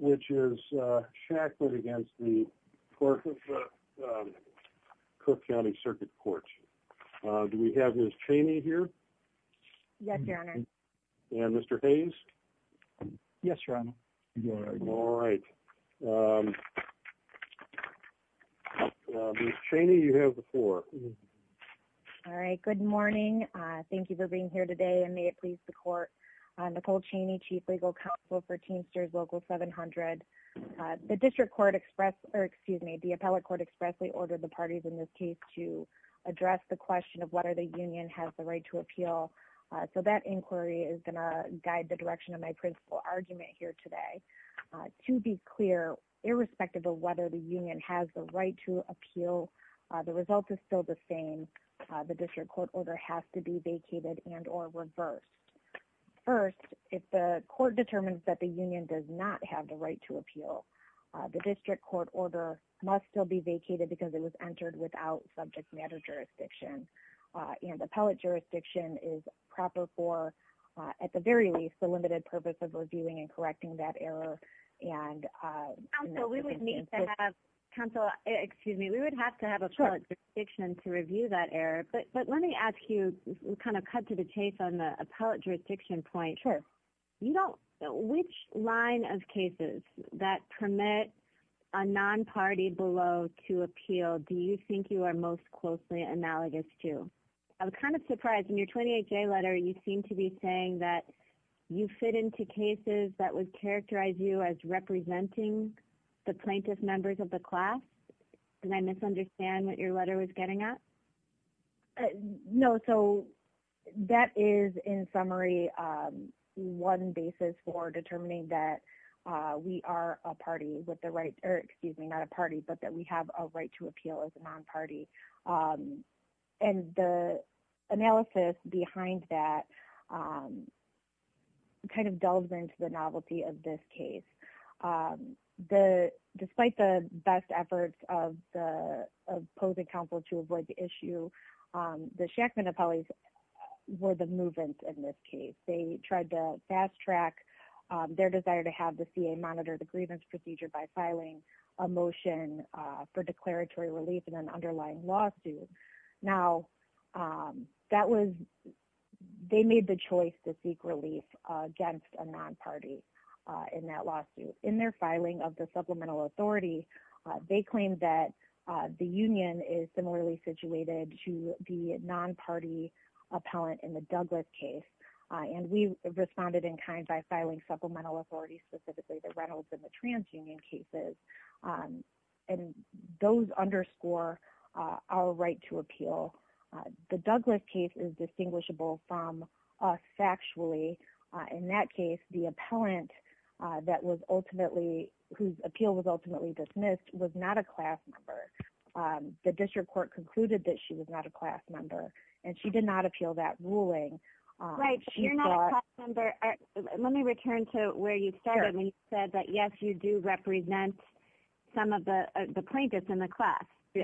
which is shackled against the Cook County Circuit Court Do we have miss Cheney here? Yes, your honor and mr. Hayes Yes, your honor Cheney you have the floor All right. Good morning. Thank you for being here today and may it please the court Nicole Cheney chief legal counsel for teensters local 700 the district court express or excuse me, the appellate court expressly ordered the parties in this case to Address the question of whether the union has the right to appeal So that inquiry is gonna guide the direction of my principal argument here today To be clear irrespective of whether the union has the right to appeal The result is still the same the district court order has to be vacated and or reversed First if the court determines that the union does not have the right to appeal The district court order must still be vacated because it was entered without subject matter jurisdiction you know, the appellate jurisdiction is proper for at the very least the limited purpose of reviewing and correcting that error and Counsel excuse me, we would have to have a Section to review that error, but but let me ask you kind of cut to the chase on the appellate jurisdiction point sure You don't know which line of cases that permit a non party below to appeal Do you think you are most closely analogous to I'm kind of surprised in your 28-day letter You seem to be saying that you fit into cases that would characterize you as representing The plaintiff members of the class and I misunderstand what your letter was getting at No, so that is in summary one basis for determining that We are a party with the right or excuse me, not a party, but that we have a right to appeal as a non-party and the analysis behind that Kind of delves into the novelty of this case The despite the best efforts of the opposing counsel to avoid the issue the Shackman appellees Were the movement in this case. They tried to fast-track Their desire to have the CA monitor the grievance procedure by filing a motion for declaratory relief in an underlying lawsuit now that was They made the choice to seek relief Against a non-party in that lawsuit in their filing of the supplemental authority They claimed that the Union is similarly situated to the non-party Appellant in the Douglas case and we responded in kind by filing supplemental authorities specifically the Reynolds and the trans union cases and those underscore our right to appeal The Douglas case is distinguishable from Factually in that case the appellant that was ultimately whose appeal was ultimately dismissed was not a class member The district court concluded that she was not a class member and she did not appeal that ruling Let me return to where you said that yes, you do represent Some of the the plaintiffs in the class The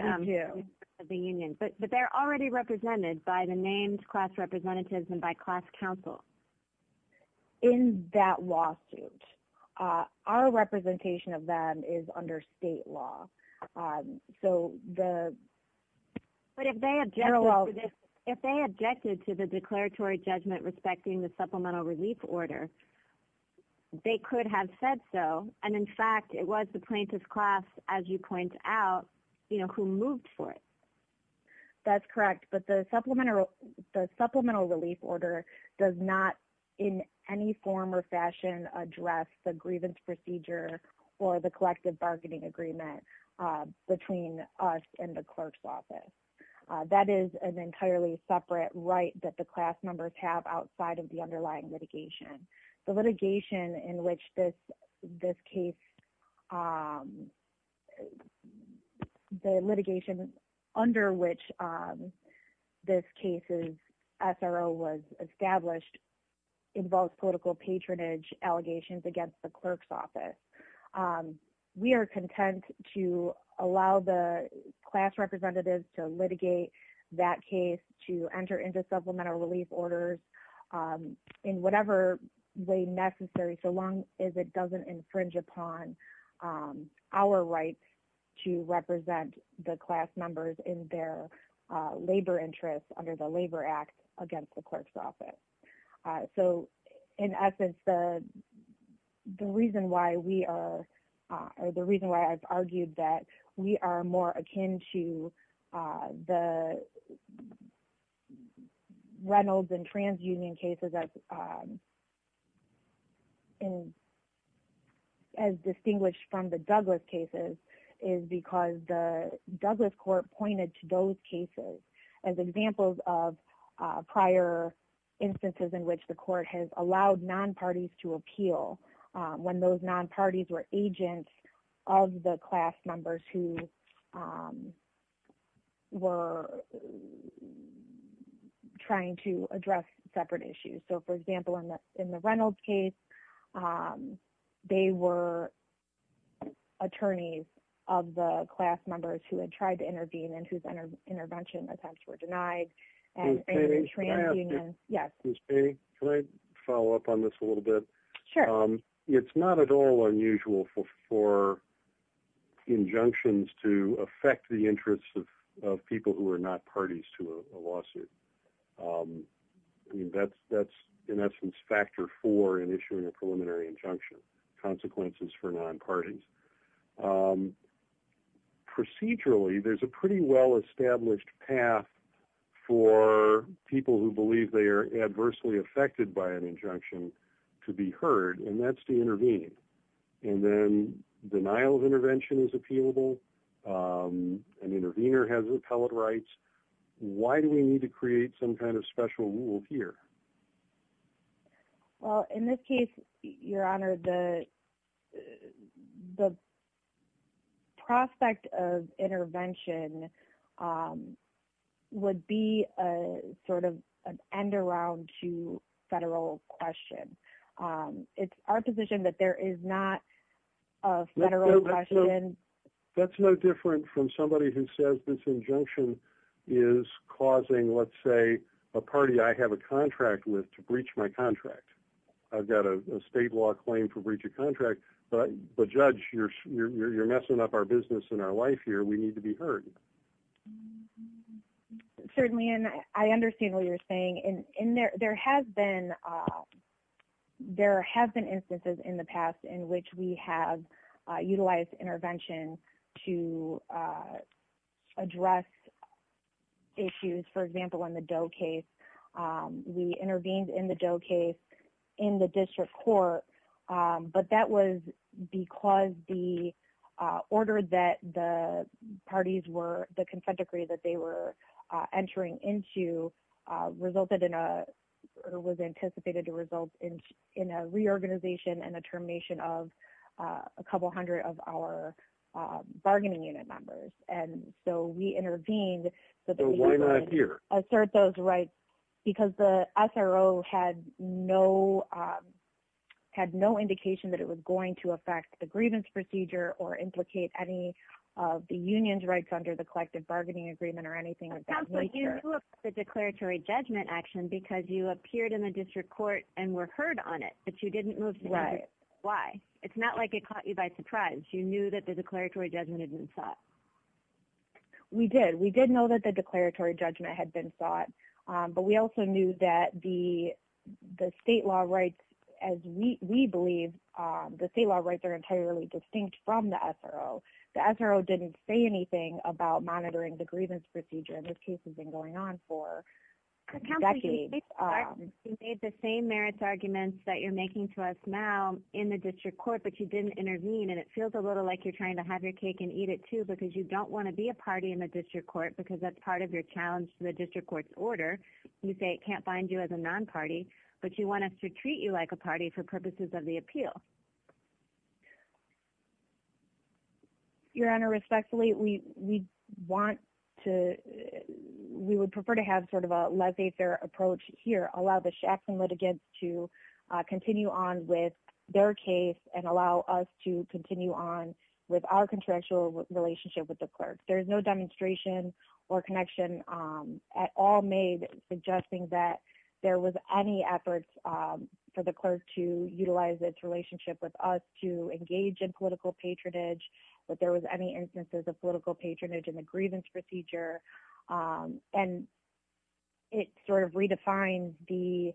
Union but but they're already represented by the names class representatives and by class counsel in that lawsuit Our representation of them is under state law so the But if they have general if they objected to the declaratory judgment respecting the supplemental relief order They could have said so and in fact, it was the plaintiff's class as you point out, you know who moved for it That's correct But the supplement or the supplemental relief order does not in any form or fashion Address the grievance procedure or the collective bargaining agreement between us and the clerk's office That is an entirely separate right that the class members have outside of the underlying litigation The litigation in which this this case The litigation under which This case is SRO was established involves political patronage allegations against the clerk's office We are content to allow the class representatives to litigate that case to enter into supplemental relief orders In whatever way necessary so long as it doesn't infringe upon our rights to represent the class members in their Labor interests under the Labor Act against the clerk's office so in essence the the reason why we are or the reason why I've argued that we are more akin to the Reynolds and trans union cases as In as distinguished from the Douglas cases is because the Douglas court pointed to those cases as examples of prior Instances in which the court has allowed non parties to appeal when those non parties were agents of the class members who Were Trying to address separate issues, so for example in the in the Reynolds case They were Attorneys of the class members who had tried to intervene and whose intervention attempts were denied Yes, follow up on this a little bit sure it's not at all unusual for Injunctions to affect the interests of people who are not parties to a lawsuit That's that's in essence factor for an issue in a preliminary injunction consequences for non parties Procedurally there's a pretty well established path for people who believe they are adversely affected by an injunction to be heard and that's to intervene and Denial of intervention is appealable An intervener has repellent rights. Why do we need to create some kind of special rule here? Well in this case your honor the the Prospect of intervention Would be a sort of an end around to federal question It's our position that there is not That's no different from somebody who says this injunction is Causing let's say a party. I have a contract with to breach my contract I've got a state law claim to breach a contract, but the judge you're you're messing up our business in our life here We need to be heard Certainly and I understand what you're saying in in there there has been There have been instances in the past in which we have utilized intervention to Address Issues, for example in the dough case We intervened in the dough case in the district court but that was because the order that the parties were the consent decree that they were entering into Resulted in a was anticipated to result in in a reorganization and a termination of a couple hundred of our bargaining unit members and so we intervened Assert those rights because the SRO had no Had no indication that it was going to affect the grievance procedure or implicate any The union's rights under the collective bargaining agreement or anything The declaratory judgment action because you appeared in the district court and were heard on it, but you didn't move to write it Why it's not like it caught you by surprise. You knew that the declaratory judgment had been sought We did we didn't know that the declaratory judgment had been sought but we also knew that the the state law rights as We believe the state law rights are entirely distinct from the SRO The SRO didn't say anything about monitoring the grievance procedure. This case has been going on for decades Made the same merits arguments that you're making to us now in the district court but you didn't intervene and it feels a little like you're trying to have your cake and eat it too because you don't want to Be a party in the district court because that's part of your challenge to the district courts order You say it can't find you as a non party But you want us to treat you like a party for purposes of the appeal Your honor respectfully we we want to We would prefer to have sort of a less a fair approach here. Allow the Shaftson litigants to Continue on with their case and allow us to continue on with our contractual relationship with the clerk There's no demonstration or connection at all made suggesting that there was any efforts For the clerk to utilize its relationship with us to engage in political patronage But there was any instances of political patronage in the grievance procedure and it sort of redefines the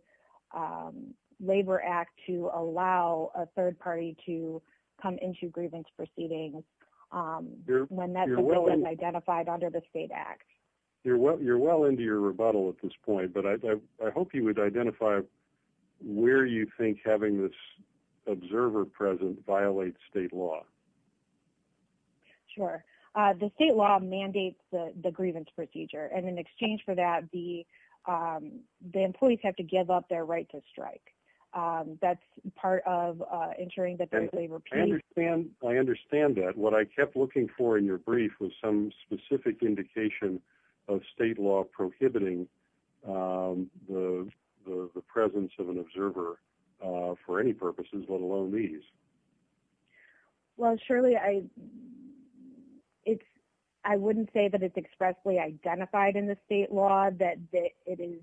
Labor Act to allow a third party to come into grievance proceedings When that was identified under the state act you're what you're well into your rebuttal at this point, but I hope you would identify Where you think having this observer present violate state law? Sure the state law mandates the grievance procedure and in exchange for that the The employees have to give up their right to strike That's part of ensuring that there's a repeat man I understand that what I kept looking for in your brief was some specific indication of state law prohibiting the presence of an observer for any purposes let alone these Well, surely I It's I wouldn't say that it's expressly identified in the state law that it is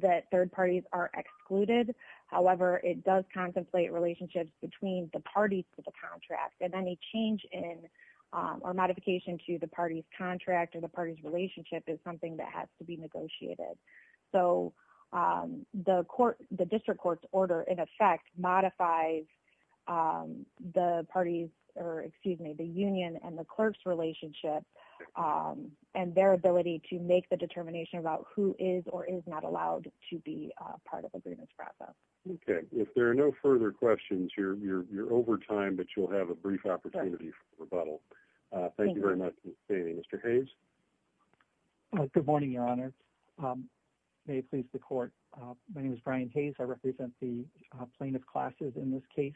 That third parties are excluded however, it does contemplate relationships between the parties to the contract and any change in Or modification to the party's contract or the party's relationship is something that has to be negotiated. So the court the district court's order in effect modifies The parties or excuse me the Union and the clerks relationship And their ability to make the determination about who is or is not allowed to be part of the business process Okay, if there are no further questions, you're you're over time, but you'll have a brief opportunity for rebuttal Thank you very much. Mr. Hayes Good morning, Your Honor May it please the court. My name is Brian Hayes I represent the plaintiff classes in this case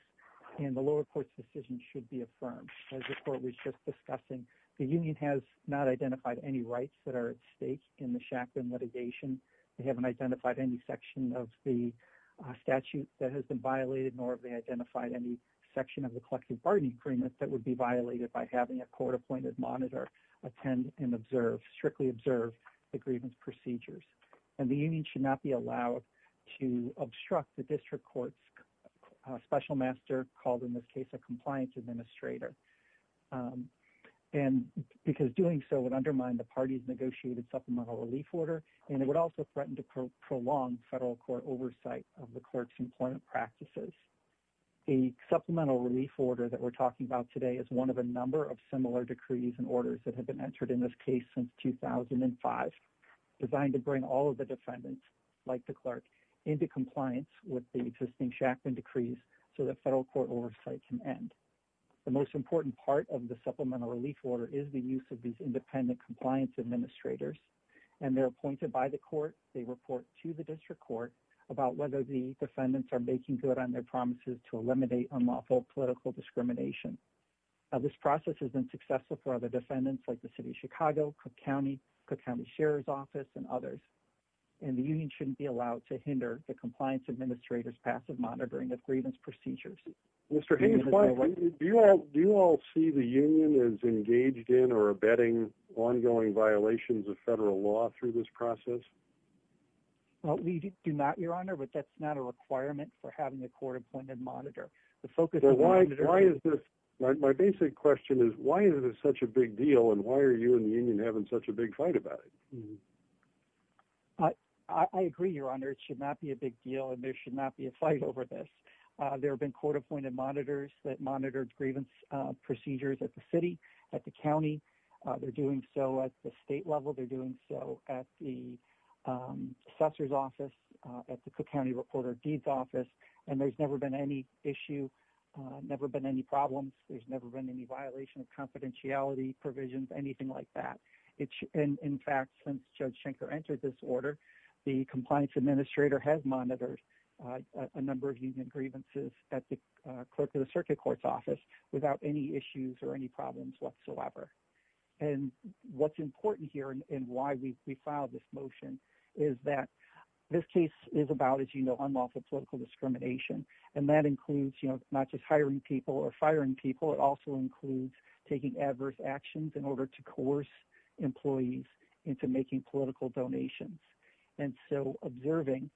and the lower court's decision should be affirmed as before Discussing the union has not identified any rights that are at stake in the shacklin litigation they haven't identified any section of the Statute that has been violated nor they identified any section of the collective bargaining agreement That would be violated by having a court-appointed monitor attend and observe strictly observed Agreement procedures and the union should not be allowed to obstruct the district courts Special master called in this case a compliance administrator and Because doing so would undermine the party's negotiated supplemental relief order and it would also threaten to prolong federal court oversight of the clerk's employment practices the Supplemental relief order that we're talking about today is one of a number of similar decrees and orders that have been entered in this case since 2005 Designed to bring all of the defendants like the clerk into compliance with the existing Shacklin decrees So the federal court oversight can end The most important part of the supplemental relief order is the use of these independent compliance administrators And they're appointed by the court They report to the district court about whether the defendants are making good on their promises to eliminate unlawful political discrimination this process has been successful for other defendants like the city of Chicago Cook County Cook County Sheriff's Office and others and Shouldn't be allowed to hinder the compliance administrators passive monitoring of grievance procedures Mr. Hayes, why do you all do you all see the union is engaged in or abetting? ongoing violations of federal law through this process Well, we do not your honor, but that's not a requirement for having a court-appointed monitor the focus Why is this my basic question is why is it such a big deal? And why are you and the union having such a big fight about it? I Agree, your honor. It should not be a big deal and there should not be a fight over this There have been court-appointed monitors that monitored grievance procedures at the city at the county they're doing so at the state level they're doing so at the Assessor's office at the Cook County reporter deeds office and there's never been any issue Never been any problems. There's never been any violation of confidentiality Anything like that, it's in fact since judge Schenker entered this order the compliance administrator has monitored a number of union grievances at the clerk of the Circuit Court's office without any issues or any problems whatsoever and What's important here and why we filed this motion is that this case is about as you know I'm off of political discrimination and that includes, you know, not just hiring people or firing people It also includes taking adverse actions in order to coerce employees into making political donations and so observing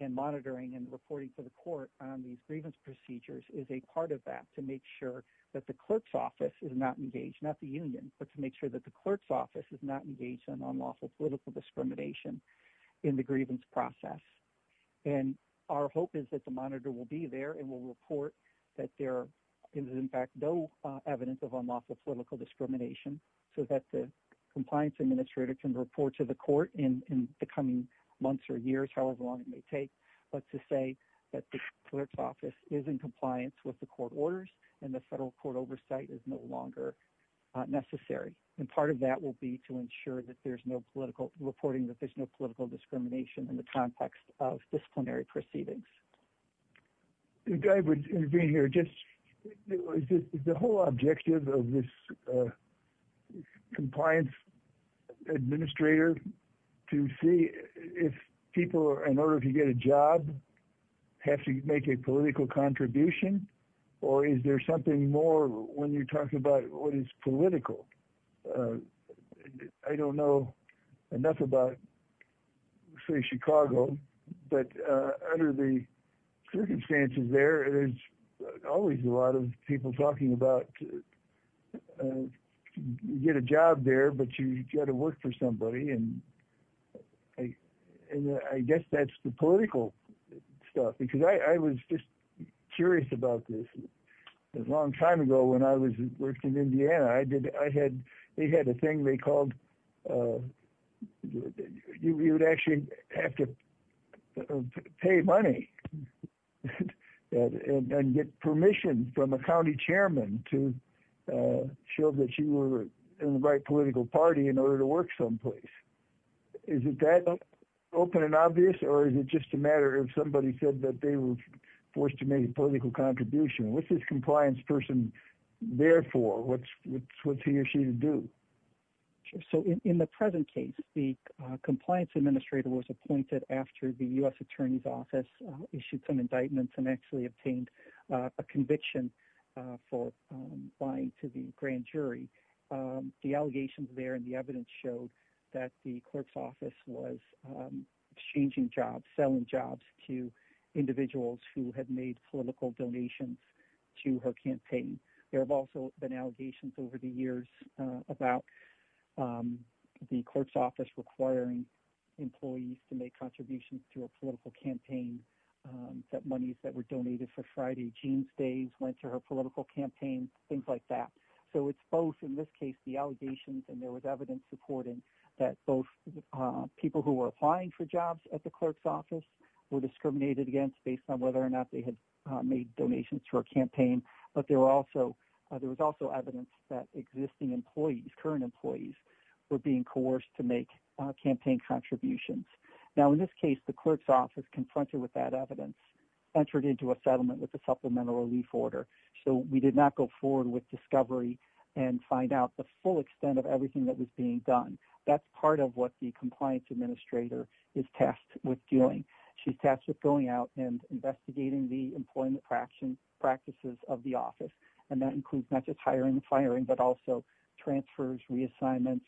and Monitoring and reporting for the court on these grievance procedures is a part of that to make sure that the clerk's office is not engaged Not the Union but to make sure that the clerk's office is not engaged in unlawful political discrimination in the grievance process and Our hope is that the monitor will be there and will report that there is in fact, no evidence of unlawful political discrimination So that the compliance administrator can report to the court in the coming months or years However long it may take but to say that the clerk's office is in compliance with the court orders and the federal court oversight is no longer Necessary and part of that will be to ensure that there's no political reporting that there's no political discrimination in the context of proceedings The guy would intervene here just the whole objective of this Compliance Administrator to see if people in order to get a job Have to make a political contribution Or is there something more when you talk about what is political? I don't know enough about say Chicago, but under the Circumstances there is always a lot of people talking about Get a job there, but you got to work for somebody and I Guess that's the political Stuff because I was just curious about this a long time ago when I was in Indiana I did I had they had a thing they called You would actually have to Pay money And get permission from a county chairman to Show that you were in the right political party in order to work someplace Is it that? Open and obvious or is it just a matter of somebody said that they were forced to make a political contribution. What's this compliance person? Therefore what's what's he or she to do? so in the present case the Attorney's office issued some indictments and actually obtained a conviction for buying to the grand jury the allegations there and the evidence showed that the clerk's office was exchanging jobs selling jobs to Individuals who had made political donations to her campaign. There have also been allegations over the years about the clerk's office requiring Employees to make contributions to a political campaign That monies that were donated for Friday jeans days went to her political campaign things like that So it's both in this case the allegations and there was evidence supporting that both People who were applying for jobs at the clerk's office were discriminated against based on whether or not they had made donations for a campaign But there were also there was also evidence that existing employees current employees were being coerced to make campaign contributions Now in this case the clerk's office confronted with that evidence entered into a settlement with the supplemental relief order So we did not go forward with discovery and find out the full extent of everything that was being done That's part of what the compliance administrator is tasked with doing She's tasked with going out and investigating the employment fraction practices of the office and that includes not just hiring and firing but also transfers reassignments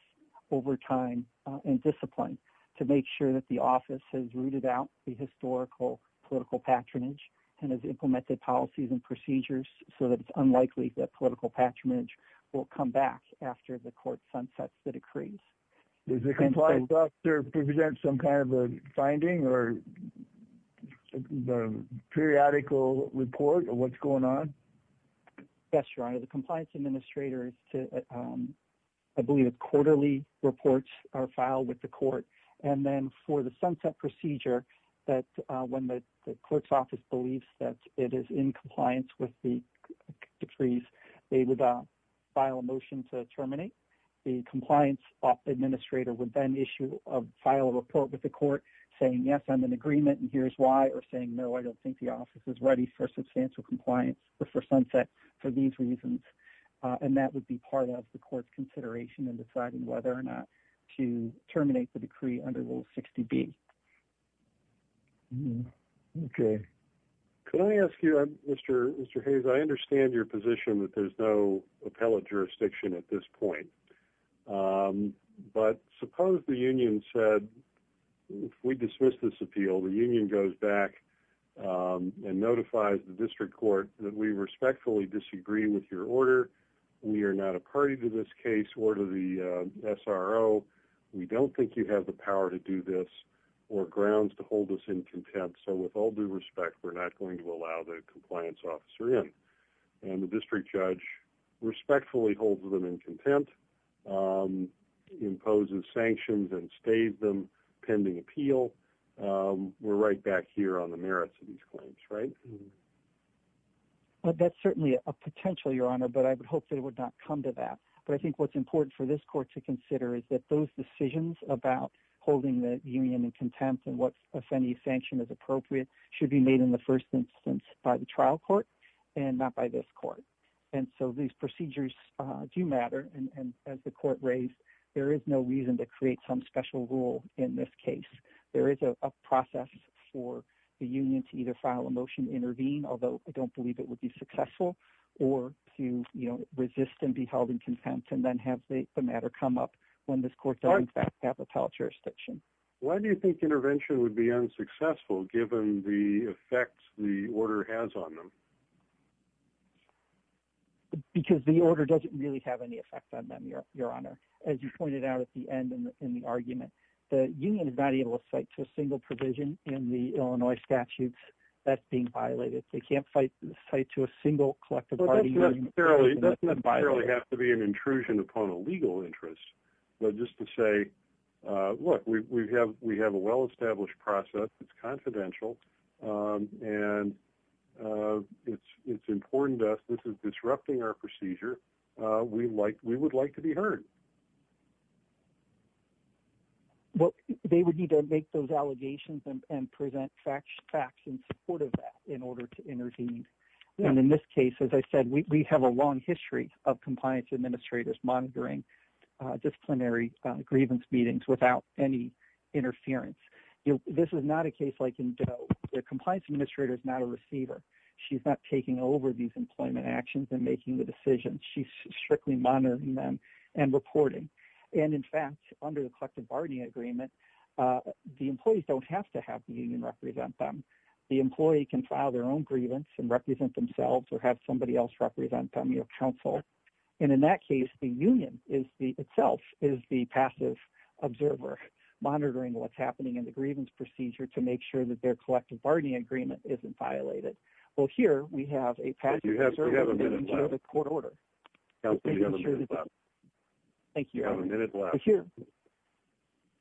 over time and discipline to make sure that the office has rooted out the historical political patronage and has Implemented policies and procedures so that it's unlikely that political patronage will come back after the court sunsets the decrees there's a compliance officer to present some kind of a finding or Periodical report or what's going on? Yes, your honor. The compliance administrator is to I believe a quarterly Reports are filed with the court and then for the sunset procedure that when the clerk's office believes that it is in compliance with the Decrees, they would file a motion to terminate the compliance Administrator would then issue a file report with the court saying yes, I'm an agreement and here's why or saying no I don't think the office is ready for substantial compliance or for sunset for these reasons And that would be part of the court's consideration and deciding whether or not to terminate the decree under rule 60 B Okay, can I ask you I'm mr. Mr. Hayes I understand your position that there's no appellate jurisdiction at this point But suppose the Union said We dismiss this appeal the Union goes back And notifies the district court that we respectfully disagree with your order We are not a party to this case or to the SRO We don't think you have the power to do this or grounds to hold us in contempt So with all due respect, we're not going to allow the compliance officer in and the district judge Respectfully holds them in contempt Imposes sanctions and stave them pending appeal We're right back here on the merits of these claims, right But that's certainly a potential your honor, but I would hope that it would not come to that but I think what's important for this court to consider is that those decisions about Holding the Union in contempt and what's a funny sanction is appropriate should be made in the first instance by the trial court And not by this court And so these procedures do matter and as the court raised there is no reason to create some special rule in this case there is a process for the Union to either file a motion intervene, although I don't believe it would be successful or To you know resist and be held in contempt and then have the matter come up when this court Don't have a pal jurisdiction. Why do you think intervention would be unsuccessful given the effects the order has on them? Because the order doesn't really have any effect on them your honor as you pointed out at the end in the argument The Union is not able to fight to a single provision in the Illinois statutes that's being violated They can't fight fight to a single collective Really have to be an intrusion upon a legal interest, but just to say Look, we have we have a well-established process. It's confidential and It's it's important to us. This is disrupting our procedure. We like we would like to be heard What they would need to make those allegations and present facts facts in support of that in order to intervene And in this case, as I said, we have a long history of compliance administrators monitoring disciplinary grievance meetings without any Interference, you know, this is not a case like in Joe the compliance administrator is not a receiver She's not taking over these employment actions and making the decisions Strictly monitoring them and reporting and in fact under the collective bargaining agreement The employees don't have to have the Union represent them The employee can file their own grievance and represent themselves or have somebody else represent them your counsel And in that case the Union is the itself is the passive observer Monitoring what's happening in the grievance procedure to make sure that their collective bargaining agreement isn't violated. Well here we have a Couple Thank you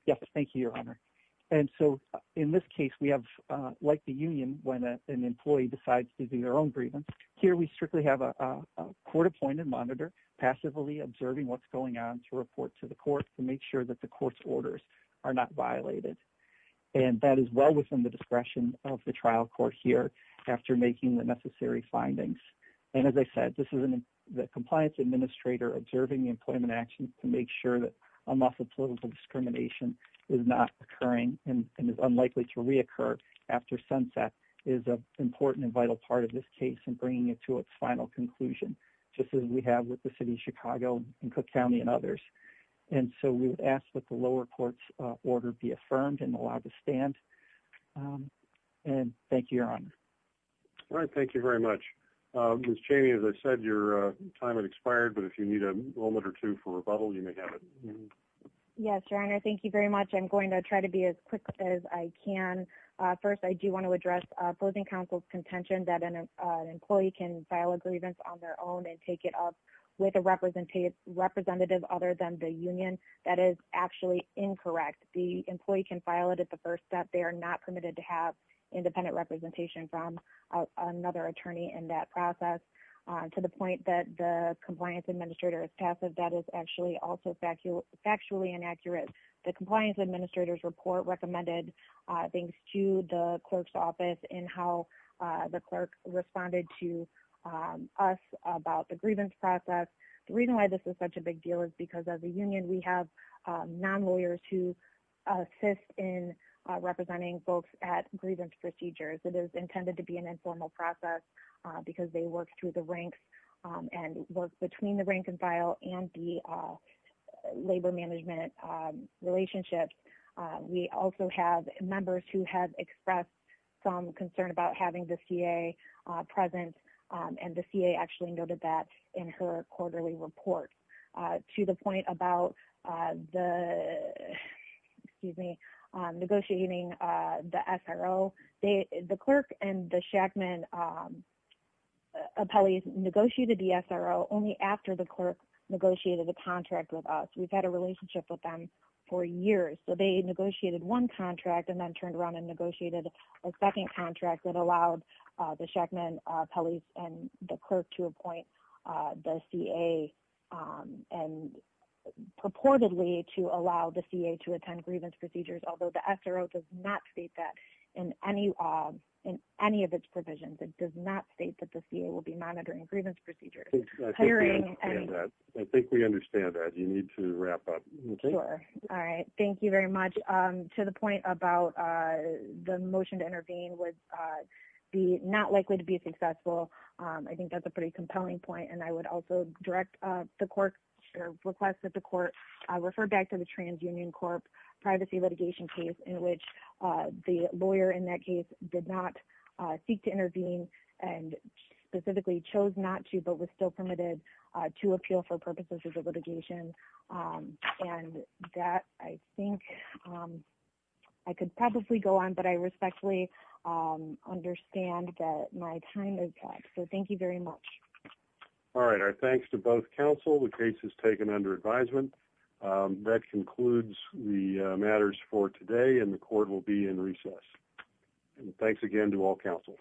Yes, thank you your honor and so in this case we have like the Union when an employee decides to do their own Grievance here. We strictly have a Court appointed monitor passively observing what's going on to report to the court to make sure that the court's orders are not violated And that is well within the discretion of the trial court here after making the necessary Findings and as I said, this is an the compliance administrator observing the employment actions to make sure that I'm off the political Discrimination is not occurring and is unlikely to reoccur after sunset is a Important and vital part of this case and bringing it to its final conclusion Just as we have with the city of Chicago and Cook County and others And so we would ask that the lower courts order be affirmed and allowed to stand And thank you your honor All right, thank you very much miss Cheney as I said your time had expired But if you need a moment or two for rebuttal, you may have it Yes, your honor. Thank you very much. I'm going to try to be as quick as I can first I do want to address opposing counsel's contention that an Employee can file a grievance on their own and take it up with a representative Representative other than the Union that is actually incorrect The employee can file it at the first step. They are not permitted to have Another attorney in that process to the point that the compliance administrator is passive That is actually also factual factually inaccurate the compliance administrator's report recommended things to the clerk's office and how the clerk responded to Us about the grievance process. The reason why this is such a big deal is because of the Union we have non-lawyers who assist in Representing folks at grievance procedures. It is intended to be an informal process because they work through the ranks and work between the rank-and-file and the labor management relationships We also have members who have expressed some concern about having the CA present and the CA actually noted that in her quarterly report to the point about the Excuse me negotiating the SRO. They the clerk and the Shackman Appellees negotiated the SRO only after the clerk negotiated the contract with us. We've had a relationship with them for years So they negotiated one contract and then turned around and negotiated a second contract that allowed the Shackman appellees and the clerk to appoint the CA and Purportedly to allow the CA to attend grievance procedures Although the SRO does not state that in any of in any of its provisions It does not state that the CA will be monitoring grievance procedures I think we understand that you need to wrap up. Okay. All right. Thank you very much to the point about the motion to intervene would Be not likely to be successful. I think that's a pretty compelling point and I would also direct the clerk Request that the court refer back to the TransUnion Corp privacy litigation case in which the lawyer in that case did not seek to intervene and Specifically chose not to but was still permitted to appeal for purposes of the litigation And that I think I could probably go on but I respectfully Understand that my time is up. So thank you very much All right, our thanks to both counsel the case is taken under advisement That concludes the matters for today and the court will be in recess Thanks again to all counsel